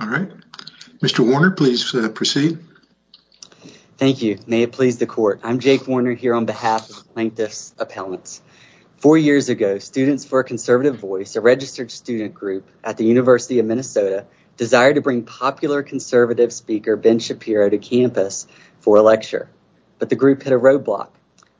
All right. Mr. Warner, please proceed. Thank you. May it please the court. I'm Jake Warner here on behalf of Plaintiff's Appellants. Four years ago, Students for a Conservative Voice, a registered student group at the University of Minnesota, desired to bring popular conservative speaker Ben Shapiro to campus for a lecture. But the group hit a roadblock.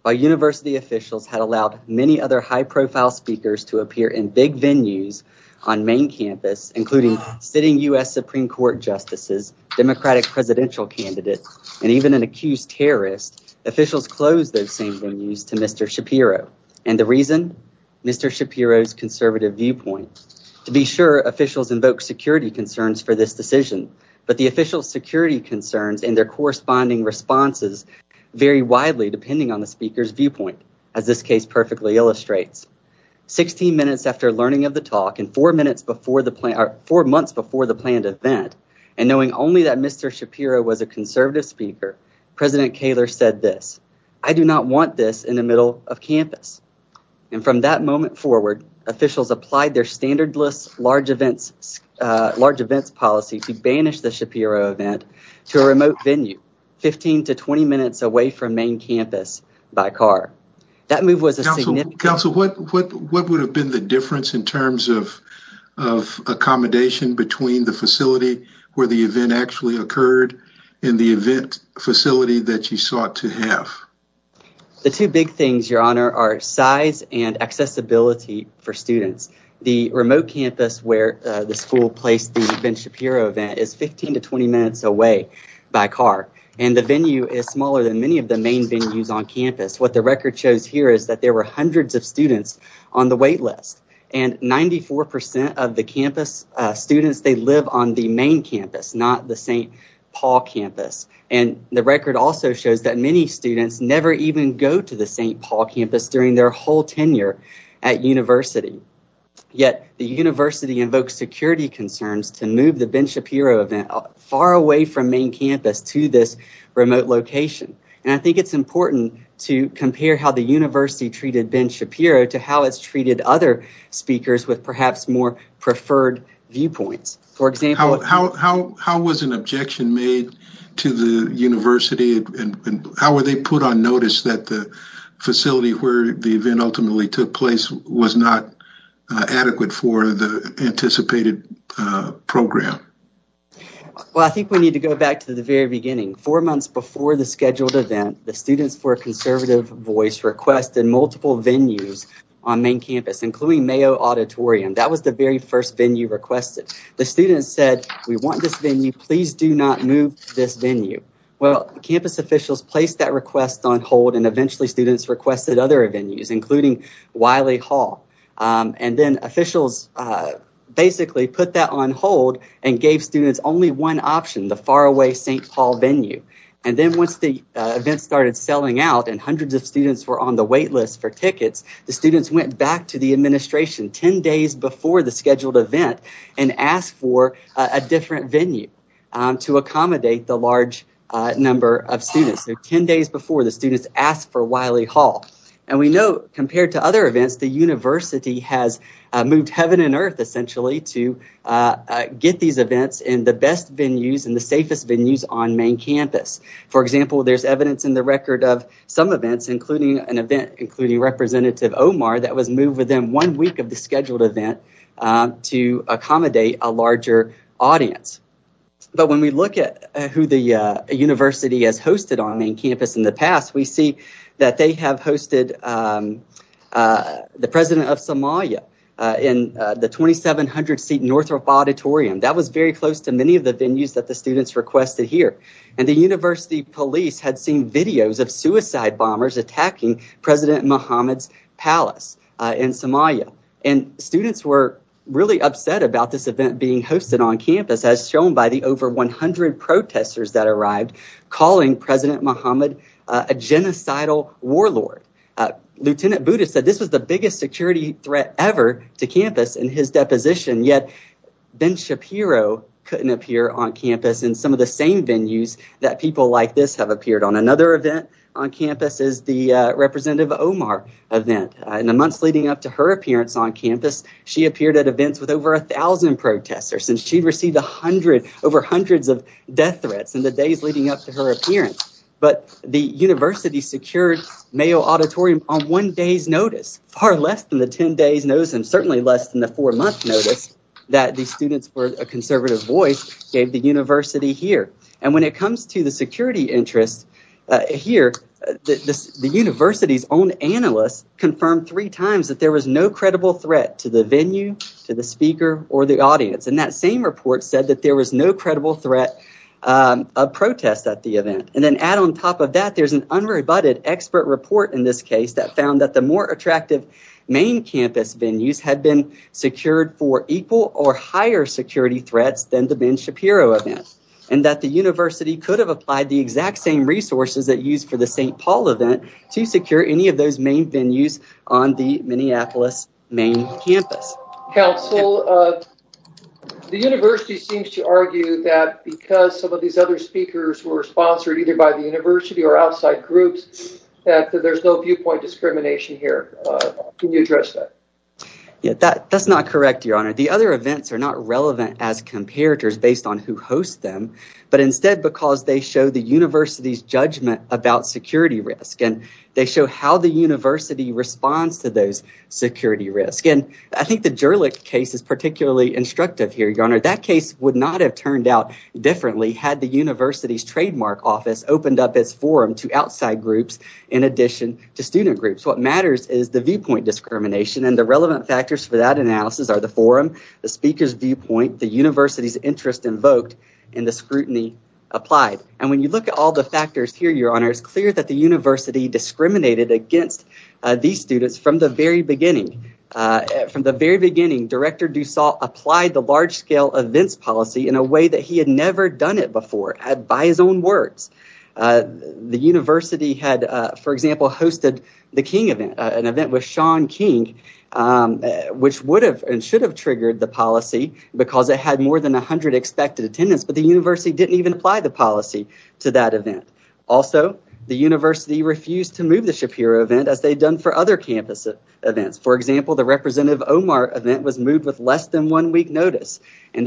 While university officials had allowed many other high-profile speakers to appear in big venues on main campus, including sitting U.S. Supreme Court justices, Democratic presidential candidates, and even an accused terrorist, officials closed those same venues to Mr. Shapiro. And the reason? Mr. Shapiro's conservative viewpoint. To be sure, officials invoked security concerns for this decision, but the official security concerns and their corresponding responses vary widely depending on the speaker's viewpoint, as this case perfectly illustrates. Sixteen minutes after learning of the talk and four months before the planned event, and knowing only that Mr. Shapiro was a conservative speaker, President Kaler said this, I do not want this in the middle of campus. And from that moment forward, officials applied their standard list large events policy to banish the Shapiro event to a remote venue, 15 to 20 minutes away from main campus by car. That move was a significant... Counsel, what would have been the difference in terms of accommodation between the facility where the event actually occurred and the event facility that you sought to have? The two big things, Your Honor, are size and accessibility for students. The remote campus where the school placed the Ben Shapiro event is 15 to 20 minutes away by car, and the venue is smaller than many of the main venues on campus. What the record shows here is that there were hundreds of students on the wait list, and 94 percent of the campus students, they live on the main campus, not the St. Paul campus. And the record also shows that many students never even go to the St. Paul campus during their whole tenure at university. Yet, the university invokes security concerns to move the Ben Shapiro event far away from main campus to this remote location. And I think it's important to compare how the university treated Ben Shapiro to how it's treated other speakers with perhaps more preferred viewpoints. How was an objection made to the university, and how were they put on notice that the facility where the event ultimately took place was not adequate for the anticipated program? Well, I think we need to go back to the very beginning. Four months before the scheduled event, the Students for a Conservative Voice requested multiple venues on main campus, including Mayo Auditorium. That was the very first venue requested. The students said, we want this venue, please do not move this venue. Well, campus officials placed that request on hold, and eventually students requested other venues, including Wiley Hall. And then officials basically put that on hold and gave students only one option, the faraway St. Paul venue. And then once the event started selling out and hundreds of students were on the wait list for tickets, the students went back to the administration 10 days before the scheduled event and asked for a different venue to accommodate the large number of students. So 10 days before, the students asked for Wiley Hall. And we know compared to other events, the university has moved heaven and earth essentially to get these events in the best venues and the safest venues on main campus. For example, there's evidence in the record of some events, including an event, including Representative Omar, that was moved within one week of the scheduled event to accommodate a larger audience. But when we look at who the university has hosted on main campus in the past, we see that they have hosted the President of Somalia in the 2700-seat Northrop Auditorium. That was very close to many of the venues that the students requested here. And the university police had seen videos of suicide bombers attacking President Mohammed's palace in Somalia. And students were really upset about this event being hosted on campus, as shown by the over 100 protesters that arrived calling President Mohammed a genocidal warlord. Lieutenant Buddha said this was the biggest the same venues that people like this have appeared on. Another event on campus is the Representative Omar event. In the months leading up to her appearance on campus, she appeared at events with over 1,000 protesters. And she received over hundreds of death threats in the days leading up to her appearance. But the university secured Mayo Auditorium on one day's notice, far less than the 10 days notice and certainly less than the four-month notice that the students for a conservative voice gave the university here. And when it comes to the security interest here, the university's own analyst confirmed three times that there was no credible threat to the venue, to the speaker, or the audience. And that same report said that there was no credible threat of protest at the event. And then add on top of that, there's an unrebutted expert report in this case that found that the more attractive main campus venues had been secured for equal or higher security threats than the Ben Shapiro event. And that the university could have applied the exact same resources that used for the St. Paul event to secure any of those main venues on the Minneapolis main campus. Council, the university seems to argue that because some of these other speakers were sponsored either by the university or outside groups, that there's no viewpoint discrimination here. Can you address that? Yeah, that's not correct, Your Honor. The other events are not relevant as comparators based on who hosts them, but instead because they show the university's judgment about security risk and they show how the university responds to those security risks. And I think the Gerlich case is particularly instructive here, Your Honor. That case would not have turned out differently had the university's trademark office opened up its forum to outside groups in addition to student groups. What matters is the viewpoint discrimination and the relevant factors for that analysis are the forum, the speaker's viewpoint, the university's interest invoked, and the scrutiny applied. And when you look at all the factors here, Your Honor, it's clear that the university discriminated against these students from the very beginning. From the very beginning, Director Dussault applied the large scale events policy in a way that he had never done it before by his own words. The university had, for example, hosted the King event, an event with Sean King, which would have and should have triggered the policy because it had more than 100 expected attendance. But the university didn't even apply the policy to that event. Also, the university refused to move the Shapiro event as they'd done for other campus events. For example, the accused terrorist event was moved on less than one week notice and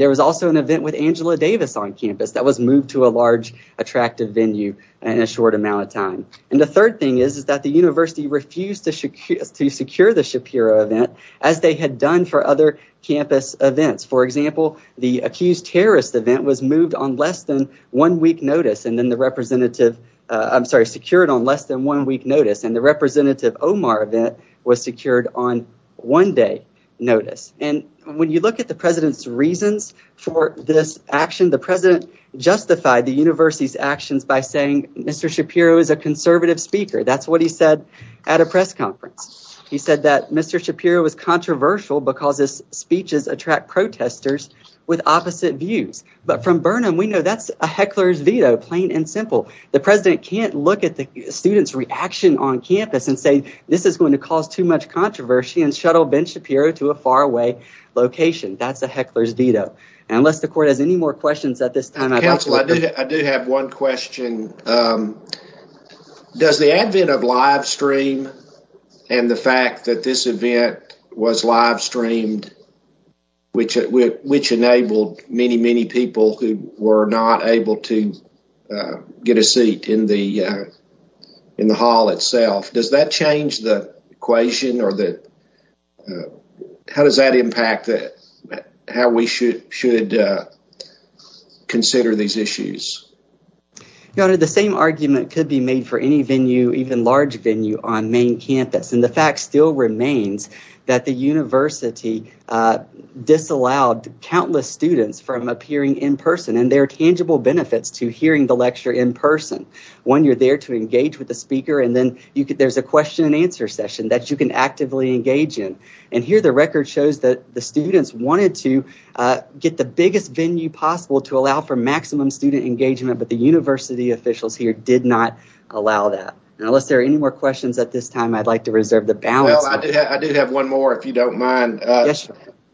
then the representative I'm sorry, secured on less than one week notice. And the representative Omar event was secured on one day notice. And when you look at the president's reasons for not moving the Shapiro event, the president justified the university's actions by saying Mr. Shapiro is a conservative speaker. That's what he said at a press conference. He said that Mr. Shapiro was controversial because his speeches attract protesters with opposite views. But from Burnham, we know that's a heckler's veto, plain and simple. The president can't look at the students' reaction on campus and say this is going to cause too much controversy and shuttle Ben Shapiro to a court as any more questions at this time. I do have one question. Does the advent of live stream and the fact that this event was live streamed, which which enabled many, many people who were not able to get a seat in the in the hall itself, does that change the equation or the how does that impact how we should consider these issues? You know, the same argument could be made for any venue, even large venue on main campus. And the fact still remains that the university disallowed countless students from appearing in person and their tangible benefits to hearing the lecture in person. When you're there to engage with the speaker and then there's a question and answer session that you can get the biggest venue possible to allow for maximum student engagement. But the university officials here did not allow that. And unless there are any more questions at this time, I'd like to reserve the balance. I do have one more, if you don't mind.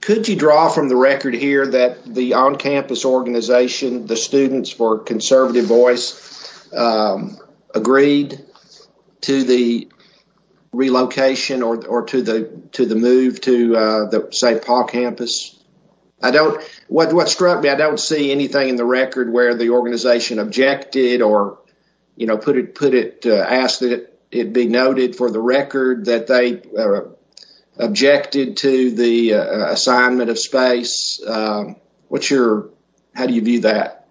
Could you draw from the record here that the on-campus organization, the students for conservative voice agreed to the relocation or to the to the move to the St. Paul campus? I don't know what struck me. I don't see anything in the record where the organization objected or, you know, put it, put it, asked that it be noted for the record that they objected to the assignment of space. What's your how do you view that?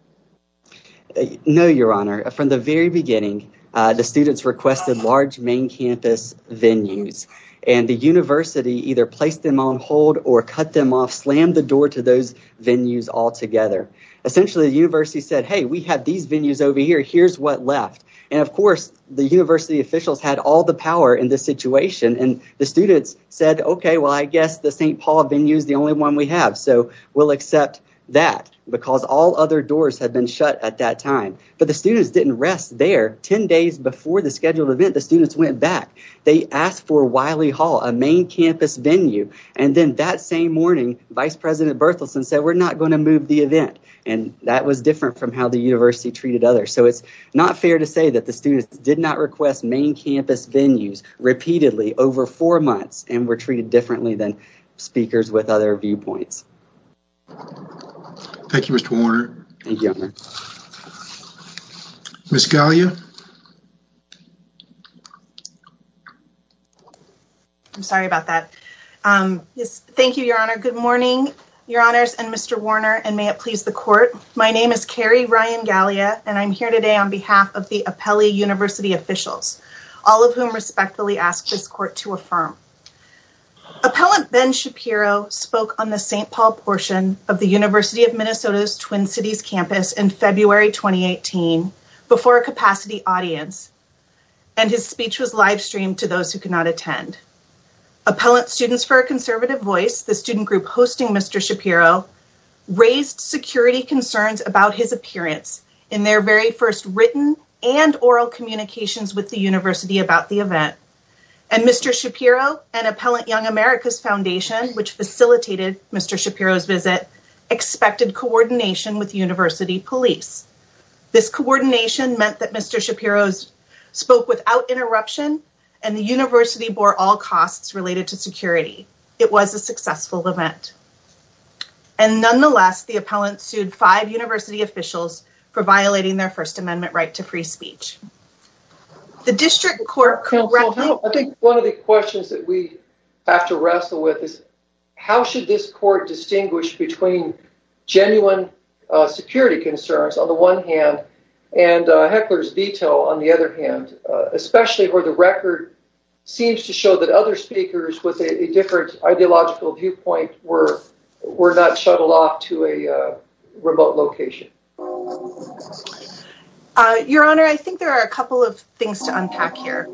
No, your honor. From the very beginning, the students requested large main campus venues and the university either placed them on hold or cut them off, slammed the door to those venues altogether. Essentially, the university said, hey, we have these venues over here. Here's what left. And of course, the university officials had all the power in this situation. And the students said, OK, well, I guess the St. Paul venues, the only one we have. So we'll accept that because all other doors have been shut at that time. But the students didn't rest there. Ten days before the scheduled event, the students went back. They asked for Wiley Hall, a main campus venue. And then that same morning, Vice President Berthelsen said, we're not going to move the event. And that was different from how the university treated others. So it's not fair to say that the students did not request main campus venues repeatedly over four months and were treated differently than speakers with other viewpoints. Thank you, Mr. Warner. Ms. Gallia. I'm sorry about that. Thank you, Your Honor. Good morning, Your Honors and Mr. Warner. And may it please the court. My name is Carrie Ryan Gallia, and I'm here today on behalf of the Apelli University officials, all of whom respectfully ask this court to affirm. Appellant Ben Shapiro spoke on the St. Paul portion of the University of Minnesota's Twin Cities campus in February 2018 before a capacity audience. And his speech was live streamed to those who could not attend. Appellant Students for a Conservative Voice, the student group hosting Mr. Shapiro, raised security concerns about his appearance in their very first written and oral communications with the university about the event. And Mr. Shapiro and Appellant Young America's Foundation, which facilitated Mr. Shapiro's visit, expected coordination with university police. This coordination meant that Mr. Shapiro spoke without interruption and the university bore all costs related to security. It was a successful event. And nonetheless, the appellant sued five university officials for violating their First Amendment right to free speech. The district court. I think one of the questions that we have to wrestle with is how should this court distinguish between genuine security concerns on the one hand and hecklers detail on the other hand, especially where the record seems to show that other speakers with a different ideological viewpoint were were not shuttled off to a remote location. Your Honor, I think there are a couple of things to unpack here.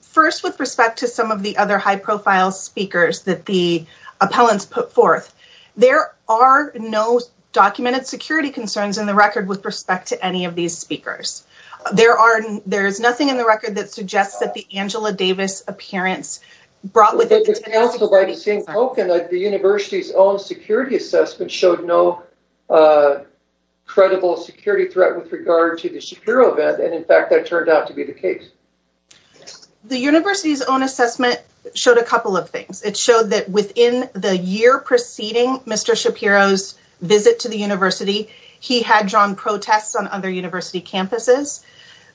First, with respect to some of the other high profile speakers that the appellants put forth, there are no documented security concerns in the record with respect to any of these speakers. There are there is nothing in the record that suggests that the Angela Davis appearance brought with it the university's own security assessment showed no credible security threat with regard to the Shapiro event. And in fact, that turned out to be the case. The university's own assessment showed a couple of things. It showed that within the year preceding Mr. Shapiro's visit to the university, he had drawn protests on other university campuses.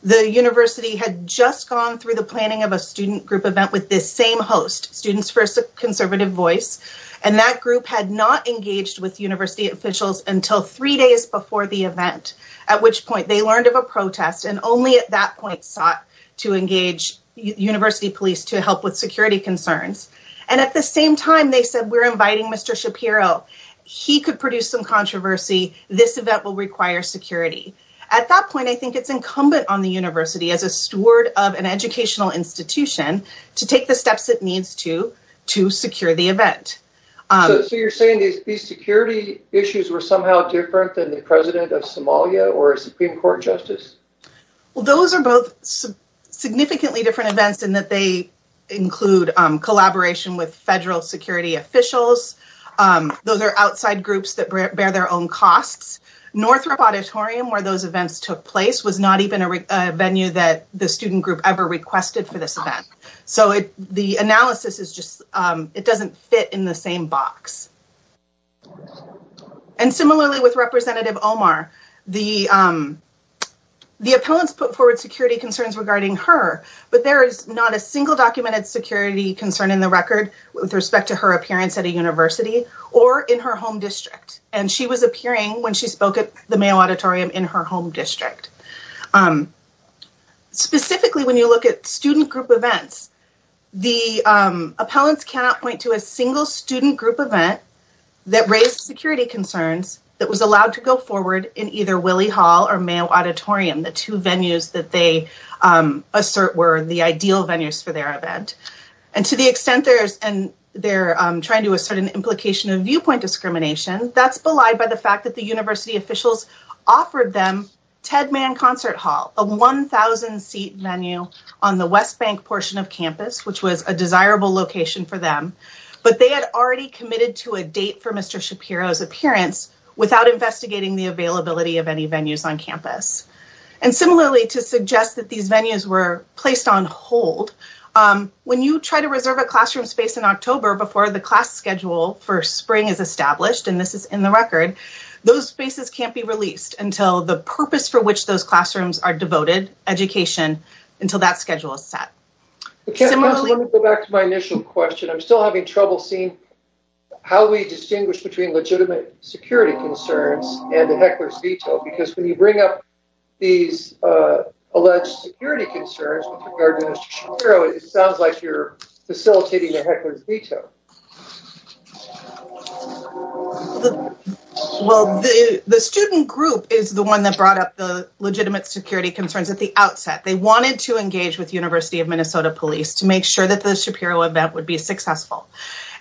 The university had just gone through the planning of a student group event with this same host, Students for a Conservative Voice. And that group had not engaged with university officials until three days before the event, at which point they learned of a protest and only at that point sought to engage university police to help with security concerns. And at the same time, they said, we're inviting Mr. Shapiro. He could produce some controversy. This event will require security. At that point, I think it's incumbent on the university as a steward of an educational institution to take the steps it needs to to secure the event. So you're saying these security issues were somehow different than the president of Somalia or a Supreme Court justice? Well, those are both significantly different events in that they include collaboration with federal security officials. Those are outside groups that bear their own costs. Northrop Auditorium, where those events took place, was not even a venue that the student group ever requested for this event. So the analysis is just it doesn't fit in the same box. And similarly with Representative Omar, the appellants put forward security concerns regarding her, but there is not a single documented security concern in the record with respect to her appearance at a university or in her home district. And she was appearing when she spoke at the Mayo Auditorium in her home district. Specifically, when you look at student group events, the appellants cannot point to a single student group event that raised security concerns that was allowed to go forward in either Willey Hall or Mayo Auditorium. The two venues that they assert were the ideal venues for their event. And to the extent they're trying to assert an implication of viewpoint discrimination, that's belied by the fact that the university officials offered them Ted Mann Concert Hall, a 1,000 seat venue on the West Bank portion of campus, which was a desirable location for them. But they had already committed to a date for Mr. Shapiro's appearance without investigating the availability of any venues on campus. And similarly, to suggest that these venues were placed on hold, when you try to reserve a classroom space in October before the class schedule for spring is established, and this is in the record, those spaces can't be released until the purpose for which those classrooms are devoted, education, until that schedule is set. Let me go back to my initial question. I'm still having trouble seeing how we distinguish between legitimate security concerns and the heckler's veto. Because when you bring up these alleged security concerns with regard to Mr. Shapiro, it sounds like you're facilitating a heckler's veto. Well, the student group is the one that brought up the legitimate security concerns at the outset. They wanted to engage with University of Minnesota police to make sure that the Shapiro event would be successful.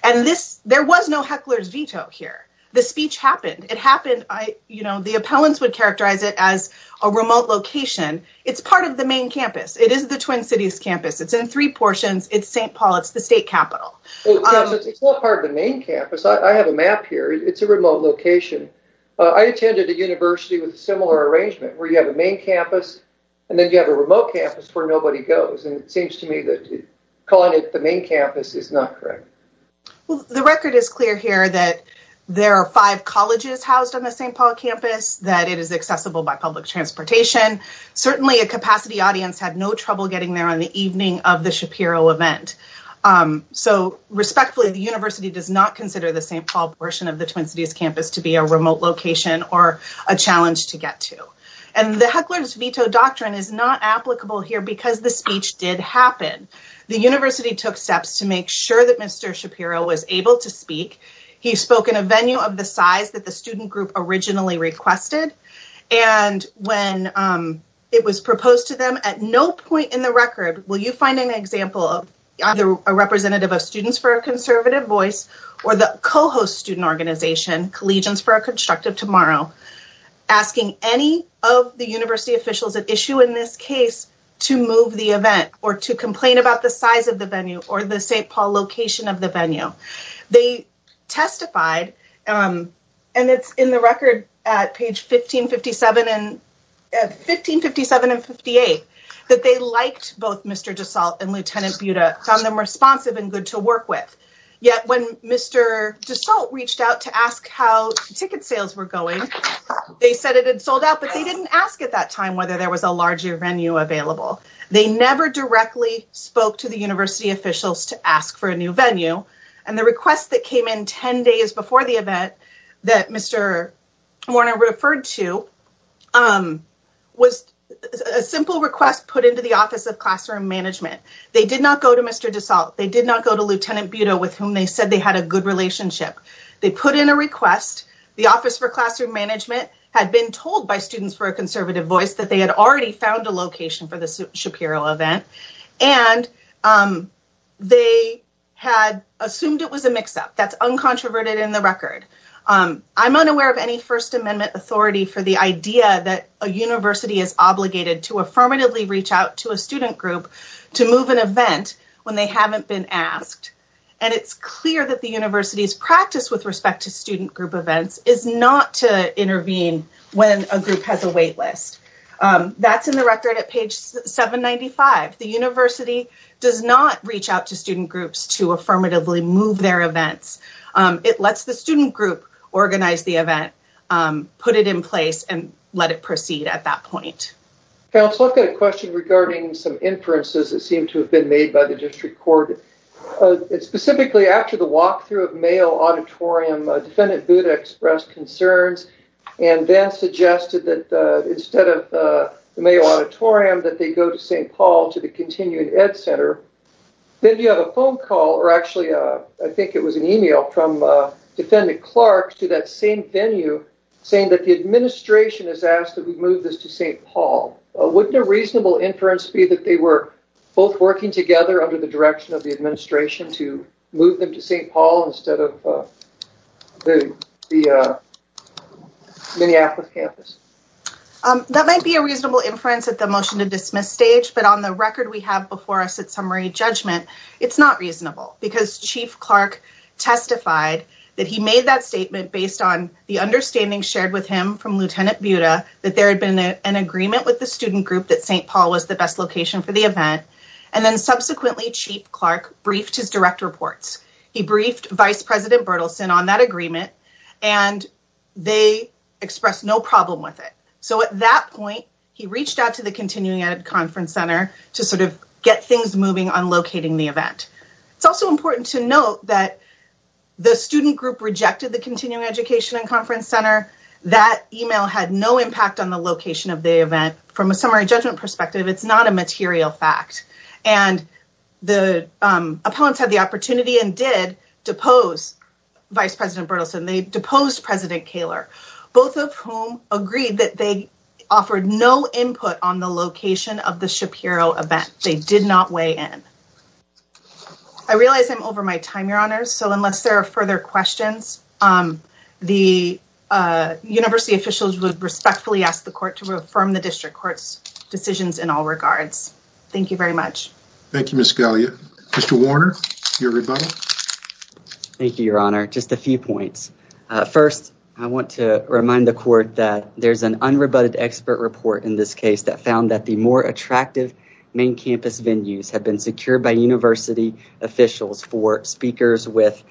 And there was no heckler's veto here. The speech happened. It happened, you know, the appellants would characterize it as a remote location. It's part of the main campus. It is the Twin Cities campus. It's in three portions. It's St. Paul. It's the state capital. It's not part of the main campus. I have a map here. It's a remote location. I attended a university with a similar arrangement where you have a main campus and then you have a remote campus where nobody goes. And it seems to me that calling it the main campus is not correct. The record is clear here that there are five colleges housed on the St. Paul campus, that it is accessible by public transportation. Certainly a capacity audience had no trouble getting there on the evening of the Shapiro event. So respectfully, the university does not consider the St. Paul portion of the Twin Cities campus to be a remote location or a challenge to get to. And the heckler's veto doctrine is not applicable here because the speech did happen. The university took steps to make sure that Mr. Shapiro was able to speak. He spoke in a venue of the size that the student group originally requested. And when it was proposed to them, at no point in the record will you find an example of either a representative of Students for a Conservative Voice or the co-host student organization, Collegians for a Constructive Tomorrow, asking any of the university officials at issue in this case to move the event or to complain about the size of the venue or the St. Paul location of the venue. They testified, and it's in the record at page 1557 and 1557 and 58, that they liked both Mr. DeSalt and Lieutenant Buda, found them responsive and good to work with. Yet when Mr. DeSalt reached out to ask how ticket sales were going, they said it had sold out, but they didn't ask at that time whether there was a larger venue available. They never directly spoke to the university officials to ask for a new venue. And the request that came in 10 days before the event that Mr. Warner referred to was a simple request put into the Office of Classroom Management. They did not go to Mr. DeSalt. They did not go to Lieutenant Buda with whom they said they had a good relationship. They put in a request. The Office for Classroom Management had been told by Students for a Conservative Voice that they had already found a location for the Shapiro event, and they had assumed it was a mix-up. That's uncontroverted in the record. I'm unaware of any First Amendment authority for the idea that a university is obligated to affirmatively reach out to a student group to move an event when they haven't been asked. And it's clear that the university's practice with respect to student group events is not to intervene when a group has a wait list. That's in the record at page 795. The university does not reach out to student groups to affirmatively move their events. It lets the student group organize the event, put it in place, and let it proceed at that point. Counsel, I've got a question regarding some inferences that seem to have been made by the district court. Specifically, after the walkthrough of Mayo Auditorium, Defendant Buda expressed concerns and then suggested that instead of the Mayo Auditorium, that they go to St. Paul to the Continuing Ed Center. Then you have a phone call, or actually I think it was an email, from Defendant Clark to that same venue saying that the administration has asked that we move this to St. Paul. Wouldn't a reasonable inference be that they were both working together under the direction of the administration to move them to St. Paul instead of the Minneapolis campus? That might be a reasonable inference at the motion to dismiss stage, but on the record we have before us at summary judgment, it's not reasonable because Chief Clark testified that he made that statement based on the understanding shared with him from Lieutenant Buda that there had been an agreement with the student group that St. Paul was the best location for the event. Subsequently, Chief Clark briefed his direct reports. He briefed Vice President Berthelsen on that agreement and they expressed no problem with it. At that point, he reached out to the Continuing Ed Conference Center to get things moving on locating the event. It's also important to note that the student group rejected the Continuing Education and Conference Center. That email had no impact on the location of the event. From a summary judgment perspective, it's not a material fact. And the appellants had the opportunity and did depose Vice President Berthelsen. They deposed President Kaler, both of whom agreed that they offered no input on the location of the Shapiro event. They did not weigh in. I realize I'm over my time, Your Honor, so unless there are further questions, the university officials would respectfully ask the court to affirm the district court's decisions in all regards. Thank you very much. Thank you, Ms. Galea. Mr. Warner, your rebuttal. Thank you, Your Honor. Just a few points. First, I want to remind the court that there's an unrebutted expert report in this case that found that the more attractive main campus venues have been secured by university officials for speakers with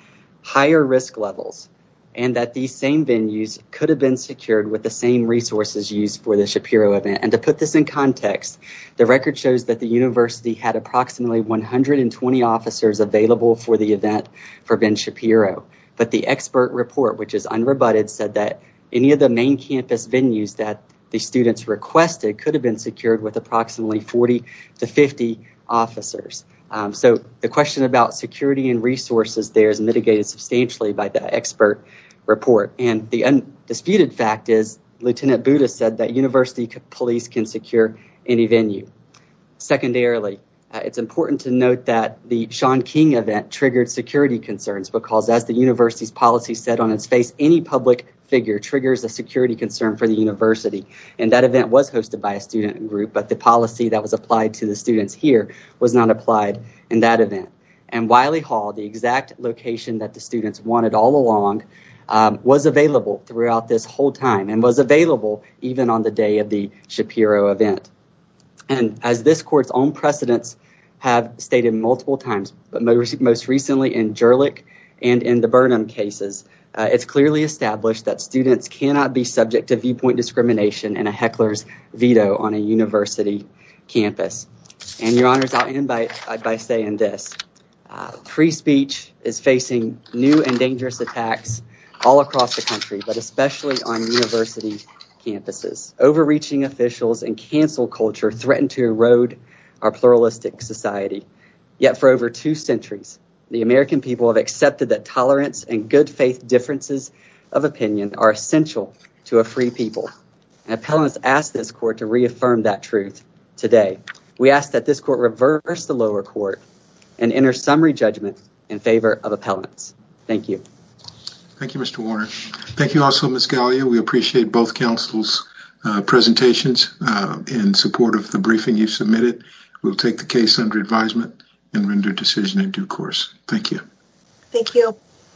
higher risk levels and that these same venues could have been secured with the same resources used for the Shapiro event. And to put this in context, the record shows that the university had approximately 120 officers available for the event for Ben Shapiro. But the expert report, which is unrebutted, said that any of the main campus venues that the students requested could have been secured with approximately 40 to 50 officers. So the question about security and resources there is mitigated substantially by the expert report. And the undisputed fact is Lieutenant Bouda said that university police can secure any venue. Secondarily, it's important to note that the Shaun King event triggered security concerns because, as the university's policy said on its face, any public figure triggers a security concern for the university. And that event was hosted by a student group, but the policy that was applied to the students here was not applied in that event. And Wiley Hall, the exact location that the students wanted all along, was available throughout this whole time and was available even on the day of the Shapiro event. And as this court's own precedents have stated multiple times, but most recently in Jerlick and in the Burnham cases, it's clearly established that students cannot be subject to viewpoint discrimination and a heckler's veto on a university campus. And your honors, I'll end by saying this. Free speech is facing new and dangerous attacks all across the country, but especially on university campuses. Overreaching officials and cancel culture threaten to erode our pluralistic society. Yet for over two centuries, the American people have accepted that tolerance and good faith differences of opinion are essential to a free people. And appellants asked this court to reaffirm that truth today. We ask that this court reverse the lower court and enter summary judgment in favor of appellants. Thank you. Thank you, Mr. Warner. Thank you also, Ms. Gallia. We appreciate both counsel's presentations in support of the briefing you submitted. We'll take the case under advisement and render decision in due course. Thank you. Thank you.